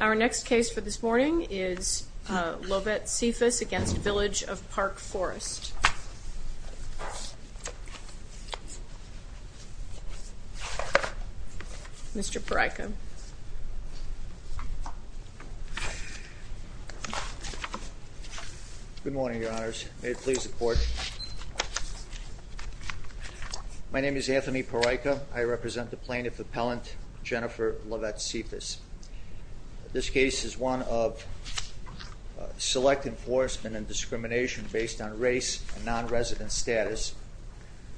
Our next case for this morning is Lovette-Cephus v. Village of Park Forest. Mr. Pariko. Good morning, your honors. May it please the court. My name is Anthony Pariko. I represent the plaintiff appellant Jennifer Lovette-Cephus. This case is one of select enforcement and discrimination based on race and non-resident status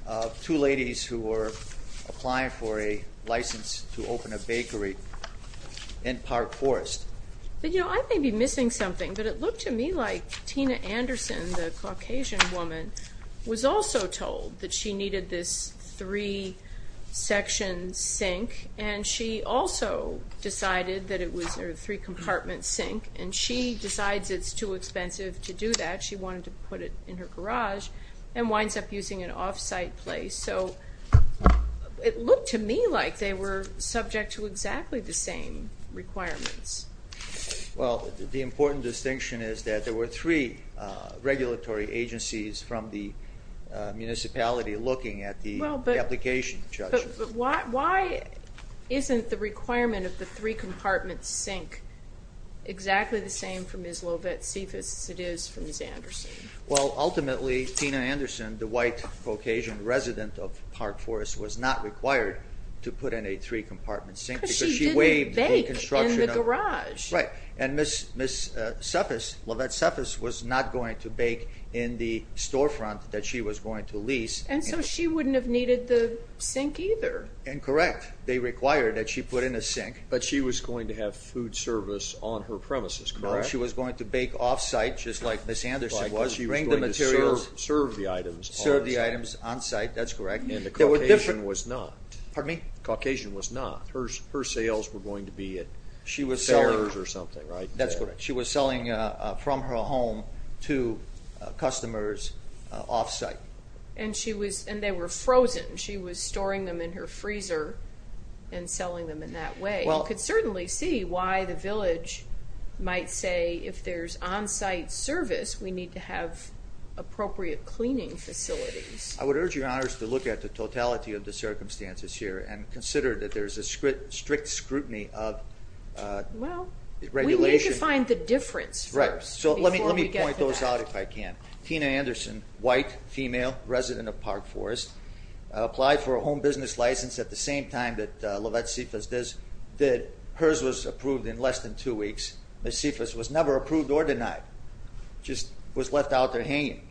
of two ladies who were applying for a license to open a bakery in Park Forest. I may be missing something, but it looked to me like Tina Anderson, the Caucasian woman, was also told that she needed this three section sink and she also decided that it was a three compartment sink and she decides it's too expensive to do that. She wanted to put it in her garage and winds up using an off-site place, so it looked to me like they were subject to exactly the same requirements. Well, the important distinction is that there were three regulatory agencies from the municipality looking at the application. But why isn't the requirement of the three compartment sink exactly the same from Ms. Lovette-Cephus as it is from Ms. Anderson? Well, ultimately, Tina Anderson, the white Caucasian resident of Park Forest, was not required to put in a three compartment sink. Because she didn't bake in the garage. Right. And Ms. Lovette-Cephus was not going to bake in the storefront that she was going to lease. And so she wouldn't have needed the sink either. Correct. They required that she put in a sink. But she was going to have food service on her premises, correct? She was going to bake off-site, just like Ms. Anderson was. She was going to serve the items. Serve the items on-site, that's correct. And the Caucasian was not. Pardon me? The Caucasian was not. Her sales were going to be at fairs or something, right? That's correct. She was selling from her home to customers off-site. And they were frozen. She was storing them in her freezer and selling them in that way. You could certainly see why the village might say if there's on-site service, we need to have appropriate cleaning facilities. I would urge your honors to look at the totality of the circumstances here and consider that there's a strict scrutiny of regulation. Well, we need to find the difference first before we get to that. Right. So let me point those out if I can. Tina Anderson, white, female, resident of Park Forest, applied for a home business license at the same time that Lovett Sifas did. Hers was approved in less than two weeks. Ms. Sifas was never approved or denied, just was left out there hanging.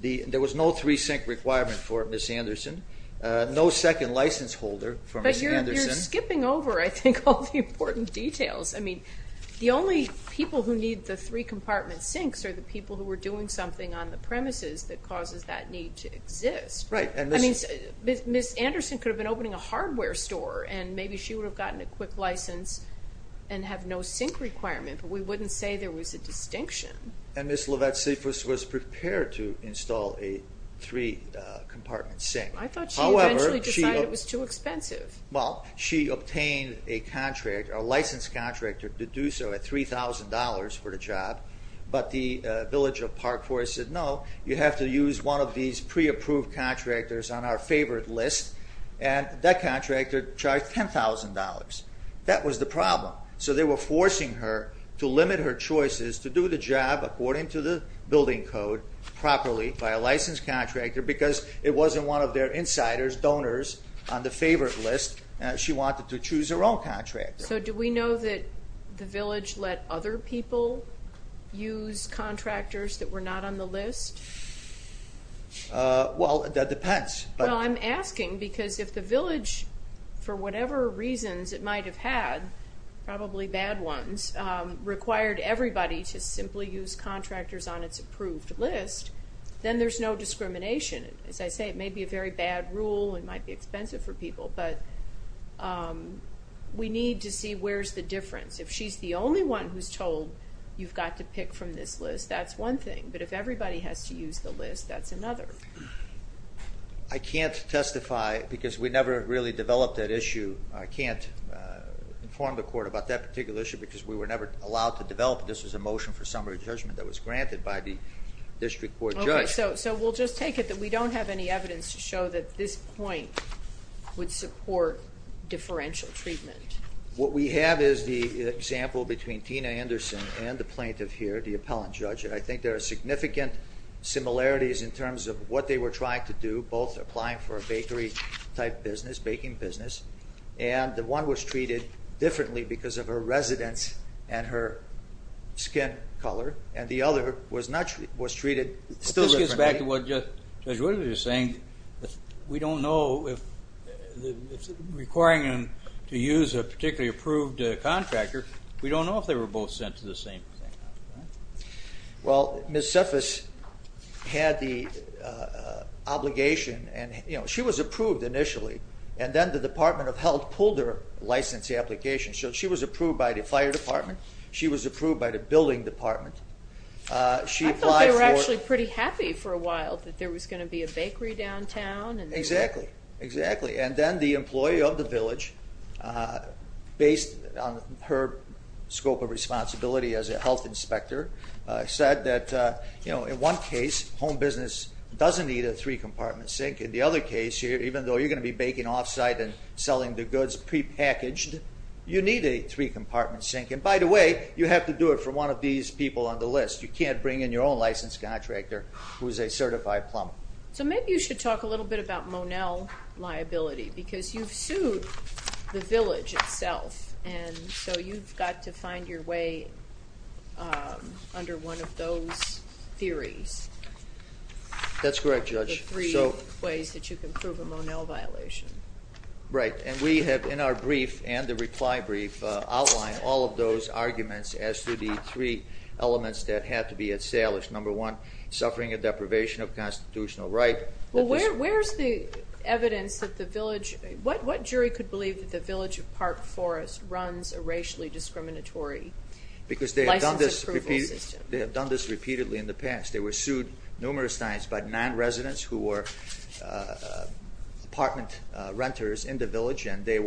There was no three-sink requirement for Ms. Anderson, no second license holder for Ms. Anderson. But you're skipping over, I think, all the important details. I mean, the only people who need the three-compartment sinks are the people who are doing something on the premises that causes that need to exist. Right. I mean, Ms. Anderson could have been opening a hardware store, and maybe she would have gotten a quick license and have no sink requirement. But we wouldn't say there was a distinction. And Ms. Lovett Sifas was prepared to install a three-compartment sink. I thought she eventually decided it was too expensive. Well, she obtained a contract, a licensed contractor, to do so at $3,000 for the job. But the village of Park Forest said, no, you have to use one of these pre-approved contractors on our favored list. And that contractor charged $10,000. That was the problem. So they were forcing her to limit her choices to do the job according to the building code properly by a licensed contractor because it wasn't one of their insiders, donors, on the favored list. She wanted to choose her own contractor. So do we know that the village let other people use contractors that were not on the list? Well, that depends. Well, I'm asking because if the village, for whatever reasons it might have had, probably bad ones, required everybody to simply use contractors on its approved list, then there's no discrimination. As I say, it may be a very bad rule. It might be expensive for people. But we need to see where's the difference. If she's the only one who's told you've got to pick from this list, that's one thing. But if everybody has to use the list, that's another. I can't testify because we never really developed that issue. I can't inform the court about that particular issue because we were never allowed to develop it. This was a motion for summary judgment that was granted by the district court judge. Okay, so we'll just take it that we don't have any evidence to show that this point would support differential treatment. What we have is the example between Tina Anderson and the plaintiff here, the appellant judge, and I think there are significant similarities in terms of what they were trying to do, both applying for a bakery-type business, baking business, and the one was treated differently because of her residence and her skin color, and the other was treated still differently. But this gets back to what Judge Woodard was saying. We don't know if requiring them to use a particularly approved contractor, we don't know if they were both sent to the same thing. Well, Ms. Cephas had the obligation, and she was approved initially, and then the Department of Health pulled her license application. So she was approved by the fire department, she was approved by the building department. I thought they were actually pretty happy for a while that there was going to be a bakery downtown. Exactly, exactly. And then the employee of the village, based on her scope of responsibility as a health inspector, said that in one case, home business doesn't need a three-compartment sink. In the other case, even though you're going to be baking offsite and selling the goods prepackaged, you need a three-compartment sink. And by the way, you have to do it for one of these people on the list. You can't bring in your own licensed contractor who is a certified plumber. So maybe you should talk a little bit about Monell liability, because you've sued the village itself, and so you've got to find your way under one of those theories. That's correct, Judge. The three ways that you can prove a Monell violation. Right, and we have in our brief and the reply brief outlined all of those arguments as to the three elements that have to be established. Number one, suffering a deprivation of constitutional right. Well, where's the evidence that the village – what jury could believe that the village of Park Forest runs a racially discriminatory license approval system? Because they have done this repeatedly in the past. They were sued numerous times by nine residents who were apartment renters in the village, and their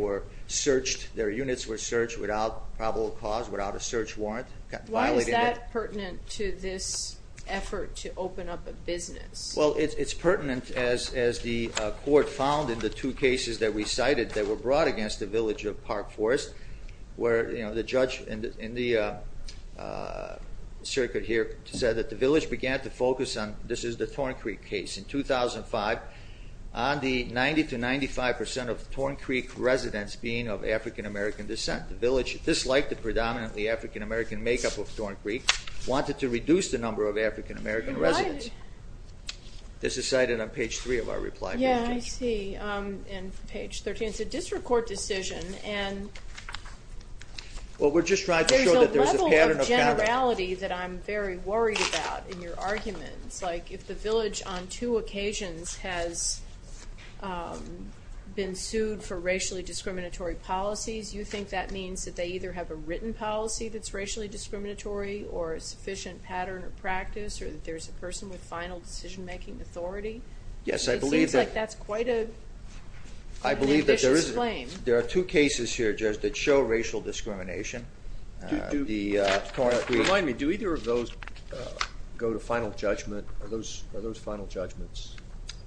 units were searched without probable cause, without a search warrant. Why is that pertinent to this effort to open up a business? Well, it's pertinent, as the court found in the two cases that we cited that were brought against the village of Park Forest, where the judge in the circuit here said that the village began to focus on – this is the Torn Creek case in 2005 – on the 90 to 95 percent of Torn Creek residents being of African-American descent. The village, disliked the predominantly African-American makeup of Torn Creek, wanted to reduce the number of African-American residents. This is cited on page three of our reply brief. Yeah, I see, and page 13. It's a district court decision, and there's a level of generality that I'm very worried about in your arguments. Like, if the village on two occasions has been sued for racially discriminatory policies, you think that means that they either have a written policy that's racially discriminatory or a sufficient pattern or practice, or that there's a person with final decision-making authority? Yes, I believe that. It seems like that's quite an ambitious claim. I believe that there are two cases here, Judge, that show racial discrimination. Do either of those go to final judgment? Are those final judgments?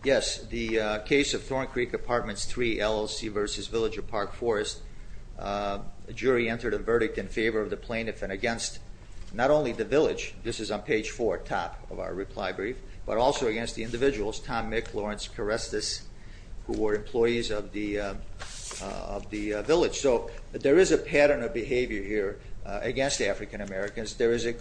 Yes. The case of Torn Creek Apartments 3 LLC v. Villager Park Forest, a jury entered a verdict in favor of the plaintiff and against not only the village – this is on page four, top of our reply brief – but also against the individuals, Tom Mick, Lawrence Karestas, who were employees of the village. So there is a pattern of behavior here against African-Americans. Not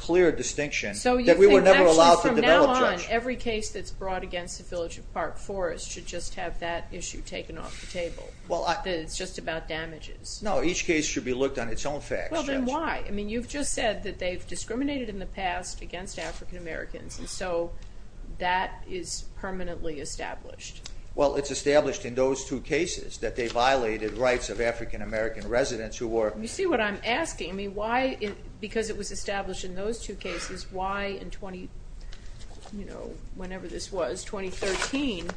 every case that's brought against the Village of Park Forest should just have that issue taken off the table, that it's just about damages. No, each case should be looked on its own facts, Judge. Well, then why? I mean, you've just said that they've discriminated in the past against African-Americans, and so that is permanently established. Well, it's established in those two cases that they violated rights of African-American residents who were – You see what I'm asking? I mean, why – because it was established in those two cases, why in 20 – you know, whenever this was, 2013,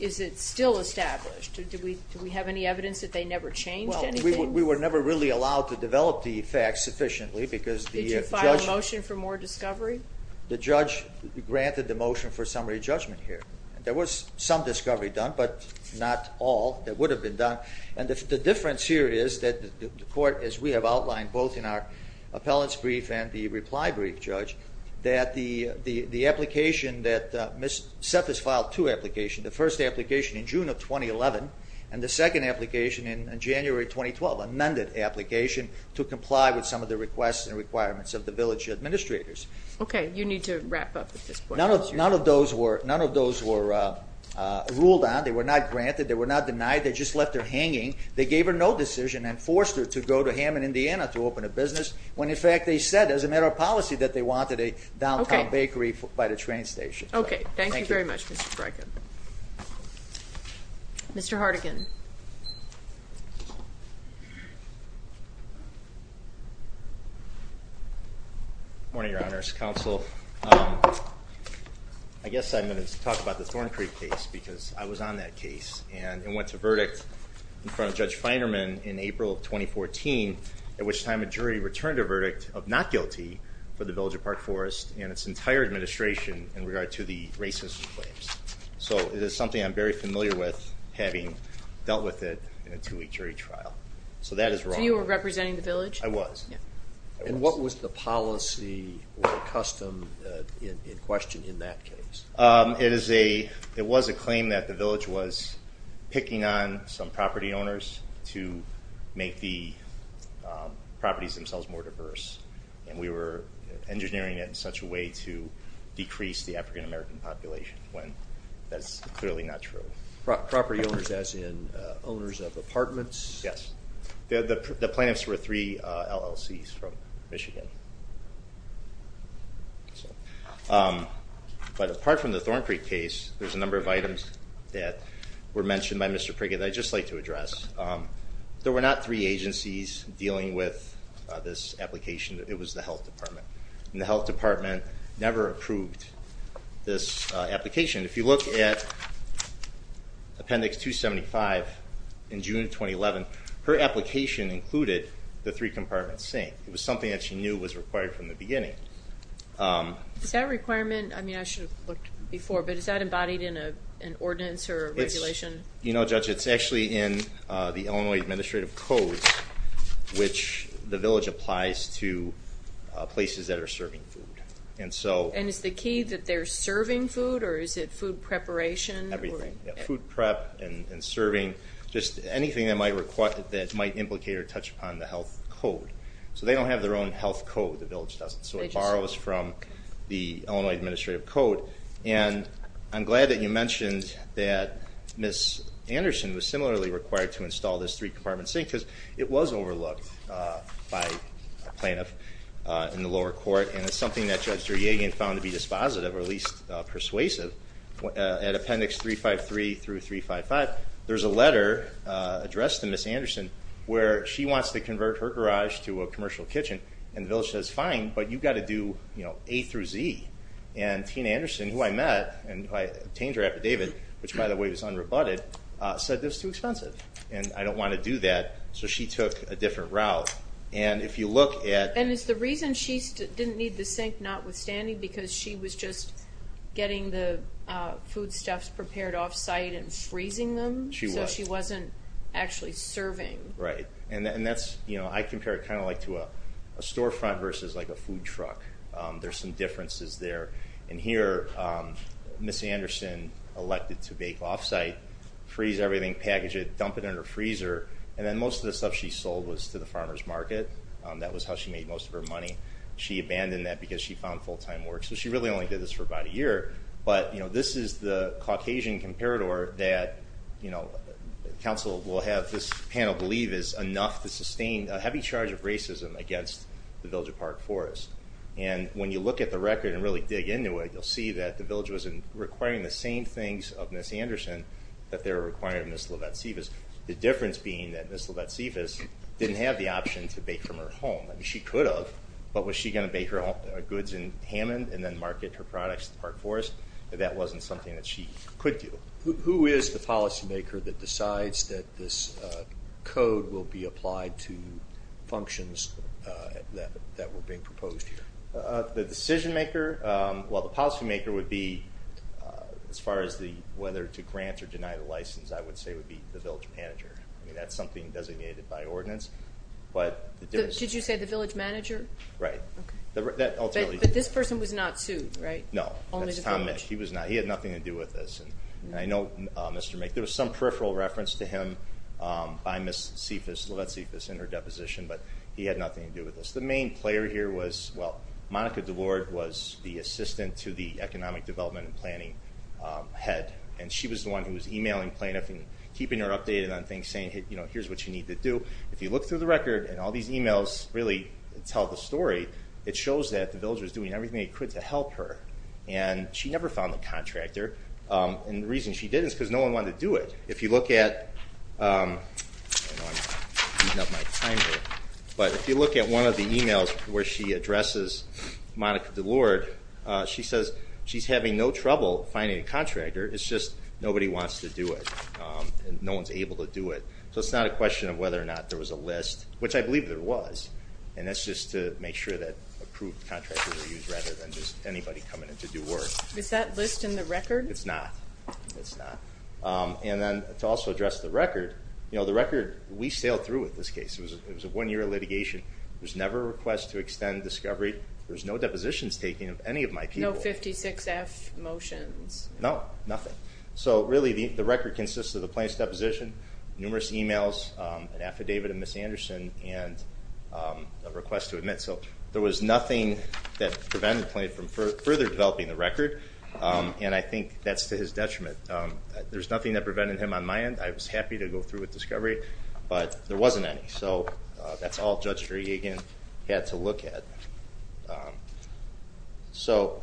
is it still established? Do we have any evidence that they never changed anything? Well, we were never really allowed to develop the facts sufficiently because the judge – Did you file a motion for more discovery? The judge granted the motion for summary judgment here. There was some discovery done, but not all that would have been done. And the difference here is that the court, as we have outlined both in our appellant's brief and the reply brief, Judge, that the application that – Seth has filed two applications, the first application in June of 2011 and the second application in January 2012, an amended application, to comply with some of the requests and requirements of the village administrators. Okay, you need to wrap up at this point. None of those were ruled on. They were not granted. They were not denied. They just left her hanging. They gave her no decision and forced her to go to Hammond, Indiana to open a business when, in fact, they said as a matter of policy that they wanted a downtown bakery by the train station. Okay. Thank you very much, Mr. Freichen. Mr. Hardigan. Good morning, Your Honors. Counsel, I guess I'm going to talk about the Thorn Creek case because I was on that case and went to verdict in front of Judge Feinerman in April of 2014, at which time a jury returned a verdict of not guilty for the village of Park Forest and its entire administration in regard to the racist claims. So it is something I'm very familiar with having dealt with it in a two-week jury trial. So that is wrong. So you were representing the village? I was. And what was the policy or custom in question in that case? It was a claim that the village was picking on some property owners to make the properties themselves more diverse, and we were engineering it in such a way to decrease the African-American population when that's clearly not true. Property owners as in owners of apartments? Yes. The plaintiffs were three LLCs from Michigan. But apart from the Thorn Creek case, there's a number of items that were mentioned by Mr. Prigget that I'd just like to address. There were not three agencies dealing with this application. It was the Health Department, and the Health Department never approved this application. If you look at Appendix 275 in June of 2011, her application included the three compartments saying it was something that she knew was required from the beginning. Is that a requirement? I mean, I should have looked before, but is that embodied in an ordinance or a regulation? You know, Judge, it's actually in the Illinois Administrative Code, which the village applies to places that are serving food. And is the key that they're serving food, or is it food preparation? Everything, food prep and serving, just anything that might implicate or touch upon the health code. So they don't have their own health code. The village doesn't. So it borrows from the Illinois Administrative Code. And I'm glad that you mentioned that Ms. Anderson was similarly required to install this three-compartment sink because it was overlooked by a plaintiff in the lower court, and it's something that Judge Duryegan found to be dispositive or at least persuasive. At Appendix 353 through 355, there's a letter addressed to Ms. Anderson where she wants to convert her garage to a commercial kitchen, and the village says, fine, but you've got to do A through Z. And Tina Anderson, who I met, and I obtained her affidavit, which, by the way, was unrebutted, said it was too expensive and I don't want to do that. So she took a different route. And if you look at... And is the reason she didn't need the sink notwithstanding because she was just getting the foodstuffs prepared off-site and freezing them? She was. So she wasn't actually serving. Right. And I compare it kind of like to a storefront versus like a food truck. There's some differences there. And here, Ms. Anderson elected to bake off-site, freeze everything, package it, dump it in her freezer, and then most of the stuff she sold was to the farmer's market. That was how she made most of her money. So she really only did this for about a year. But, you know, this is the Caucasian comparator that, you know, council will have this panel believe is enough to sustain a heavy charge of racism against the village of Park Forest. And when you look at the record and really dig into it, you'll see that the village was requiring the same things of Ms. Anderson that they were requiring of Ms. Lovett-Civis, the difference being that Ms. Lovett-Civis didn't have the option to bake from her home. She could have, but was she going to bake her goods in Hammond and then market her products to Park Forest? That wasn't something that she could do. Who is the policymaker that decides that this code will be applied to functions that were being proposed here? The decision-maker, well, the policymaker would be, as far as whether to grant or deny the license, I would say would be the village manager. I mean, that's something designated by ordinance. Did you say the village manager? Right. But this person was not sued, right? No, that's Tom Misch. He was not. He had nothing to do with this. And I know Mr. Misch, there was some peripheral reference to him by Ms. Lovett-Civis in her deposition, but he had nothing to do with this. The main player here was, well, Monica DeLorde was the assistant to the economic development and planning head, and she was the one who was emailing plaintiffs and keeping her updated on things saying, you know, here's what you need to do. If you look through the record, and all these emails really tell the story, it shows that the village was doing everything it could to help her, and she never found the contractor. And the reason she didn't is because no one wanted to do it. If you look at one of the emails where she addresses Monica DeLorde, she says she's having no trouble finding a contractor, it's just nobody wants to do it and no one's able to do it. So it's not a question of whether or not there was a list, which I believe there was, and that's just to make sure that approved contractors are used rather than just anybody coming in to do work. Is that list in the record? It's not. It's not. And then to also address the record, you know, the record we sailed through with this case. It was a one-year litigation. There was never a request to extend discovery. There was no depositions taken of any of my people. No 56-F motions. No, nothing. So really the record consists of the plaintiff's deposition, numerous emails, an affidavit of Ms. Anderson, and a request to admit. So there was nothing that prevented the plaintiff from further developing the record, and I think that's to his detriment. There's nothing that prevented him on my end. I was happy to go through with discovery, but there wasn't any. So that's all Judge Driegan had to look at. So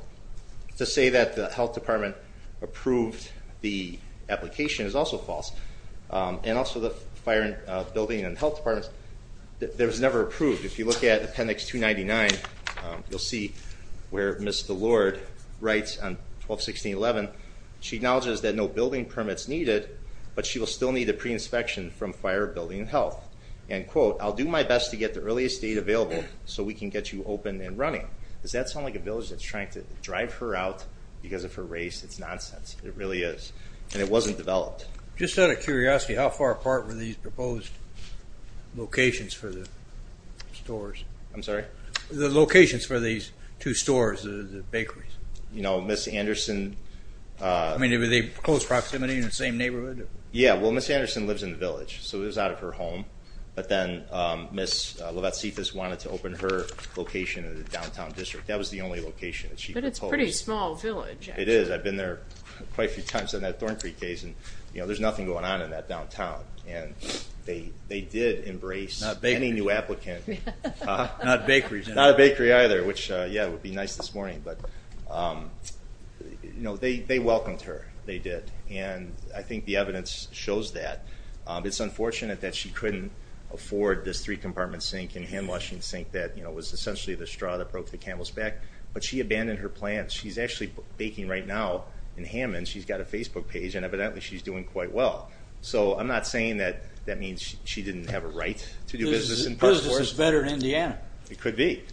to say that the Health Department approved the application is also false. And also the Fire, Building, and Health Department, there was never approved. If you look at Appendix 299, you'll see where Ms. Delord writes on 12-16-11, she acknowledges that no building permits needed, but she will still need a pre-inspection from Fire, Building, and Health. And, quote, I'll do my best to get the earliest date available so we can get you open and running. Does that sound like a village that's trying to drive her out because of her race? It's nonsense. It really is. And it wasn't developed. Just out of curiosity, how far apart were these proposed locations for the stores? I'm sorry? The locations for these two stores, the bakeries. You know, Ms. Anderson. I mean, were they close proximity in the same neighborhood? Yeah. Well, Ms. Anderson lives in the village, so it was out of her home. But then Ms. Levatsefis wanted to open her location in the downtown district. That was the only location that she proposed. But it's a pretty small village. It is. I've been there quite a few times in that Thorn Creek case, and there's nothing going on in that downtown. And they did embrace any new applicant. Not bakeries. Not a bakery either, which, yeah, would be nice this morning. But, you know, they welcomed her. They did. And I think the evidence shows that. It's unfortunate that she couldn't afford this three-compartment sink and hand-washing sink that was essentially the straw that broke the camel's back. But she abandoned her plans. She's actually baking right now in Hammond. She's got a Facebook page, and evidently she's doing quite well. So I'm not saying that that means she didn't have a right to do business in Park Forest. Business is better in Indiana. It could be.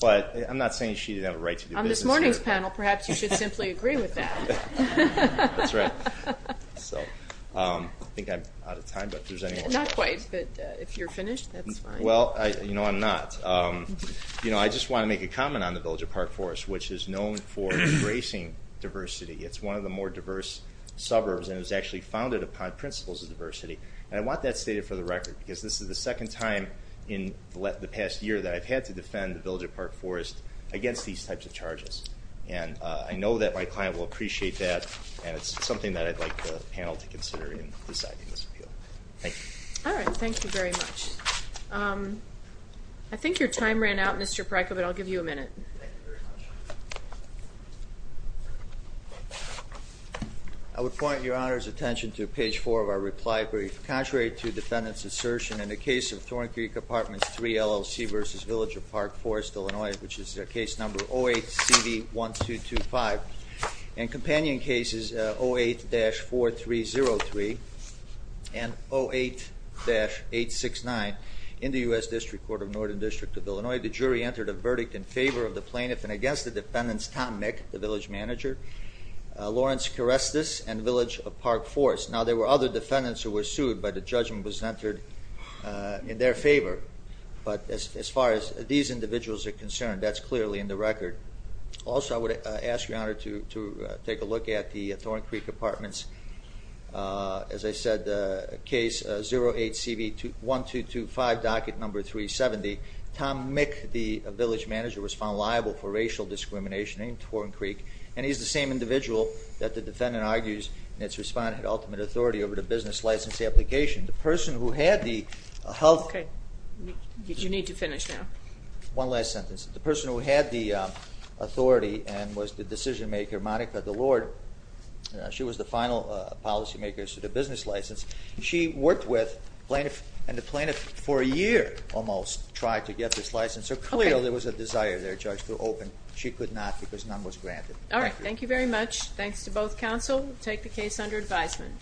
But I'm not saying she didn't have a right to do business here. On this morning's panel, perhaps you should simply agree with that. That's right. So I think I'm out of time, but if there's any more questions. Not quite, but if you're finished, that's fine. Well, you know, I'm not. You know, I just want to make a comment on the Village of Park Forest, which is known for embracing diversity. It's one of the more diverse suburbs, and it was actually founded upon principles of diversity. And I want that stated for the record, because this is the second time in the past year that I've had to defend the Village of Park Forest against these types of charges. And I know that my client will appreciate that, and it's something that I'd like the panel to consider in deciding this appeal. Thank you. All right. Thank you very much. I think your time ran out, Mr. Pareto, but I'll give you a minute. Thank you very much. I would point your Honor's attention to page 4 of our reply brief. Contrary to defendant's assertion, in the case of Thorn Creek Apartments 3 LLC v. Village of Park Forest, Illinois, which is case number 08-CV-1225, and companion cases 08-4303 and 08-869 in the U.S. District Court of Northern District of Illinois, the jury entered a verdict in favor of the plaintiff and against the defendants, Tom Mick, the village manager, Lawrence Karestas, and Village of Park Forest. Now, there were other defendants who were sued, but the judgment was entered in their favor. But as far as these individuals are concerned, that's clearly in the record. Also, I would ask your Honor to take a look at the Thorn Creek Apartments, as I said, case 08-CV-1225, docket number 370. Tom Mick, the village manager, was found liable for racial discrimination in Thorn Creek, and he's the same individual that the defendant argues in its response to ultimate authority over the business license application. The person who had the health... Okay. You need to finish now. One last sentence. The person who had the authority and was the decision maker, Monica DeLorde, she was the final policymaker, so the business license, she worked with plaintiff and the plaintiff for a year almost tried to get this license, so clearly there was a desire there, Judge, to open. She could not because none was granted. All right. Thank you very much. Thanks to both counsel. We'll take the case under advisement.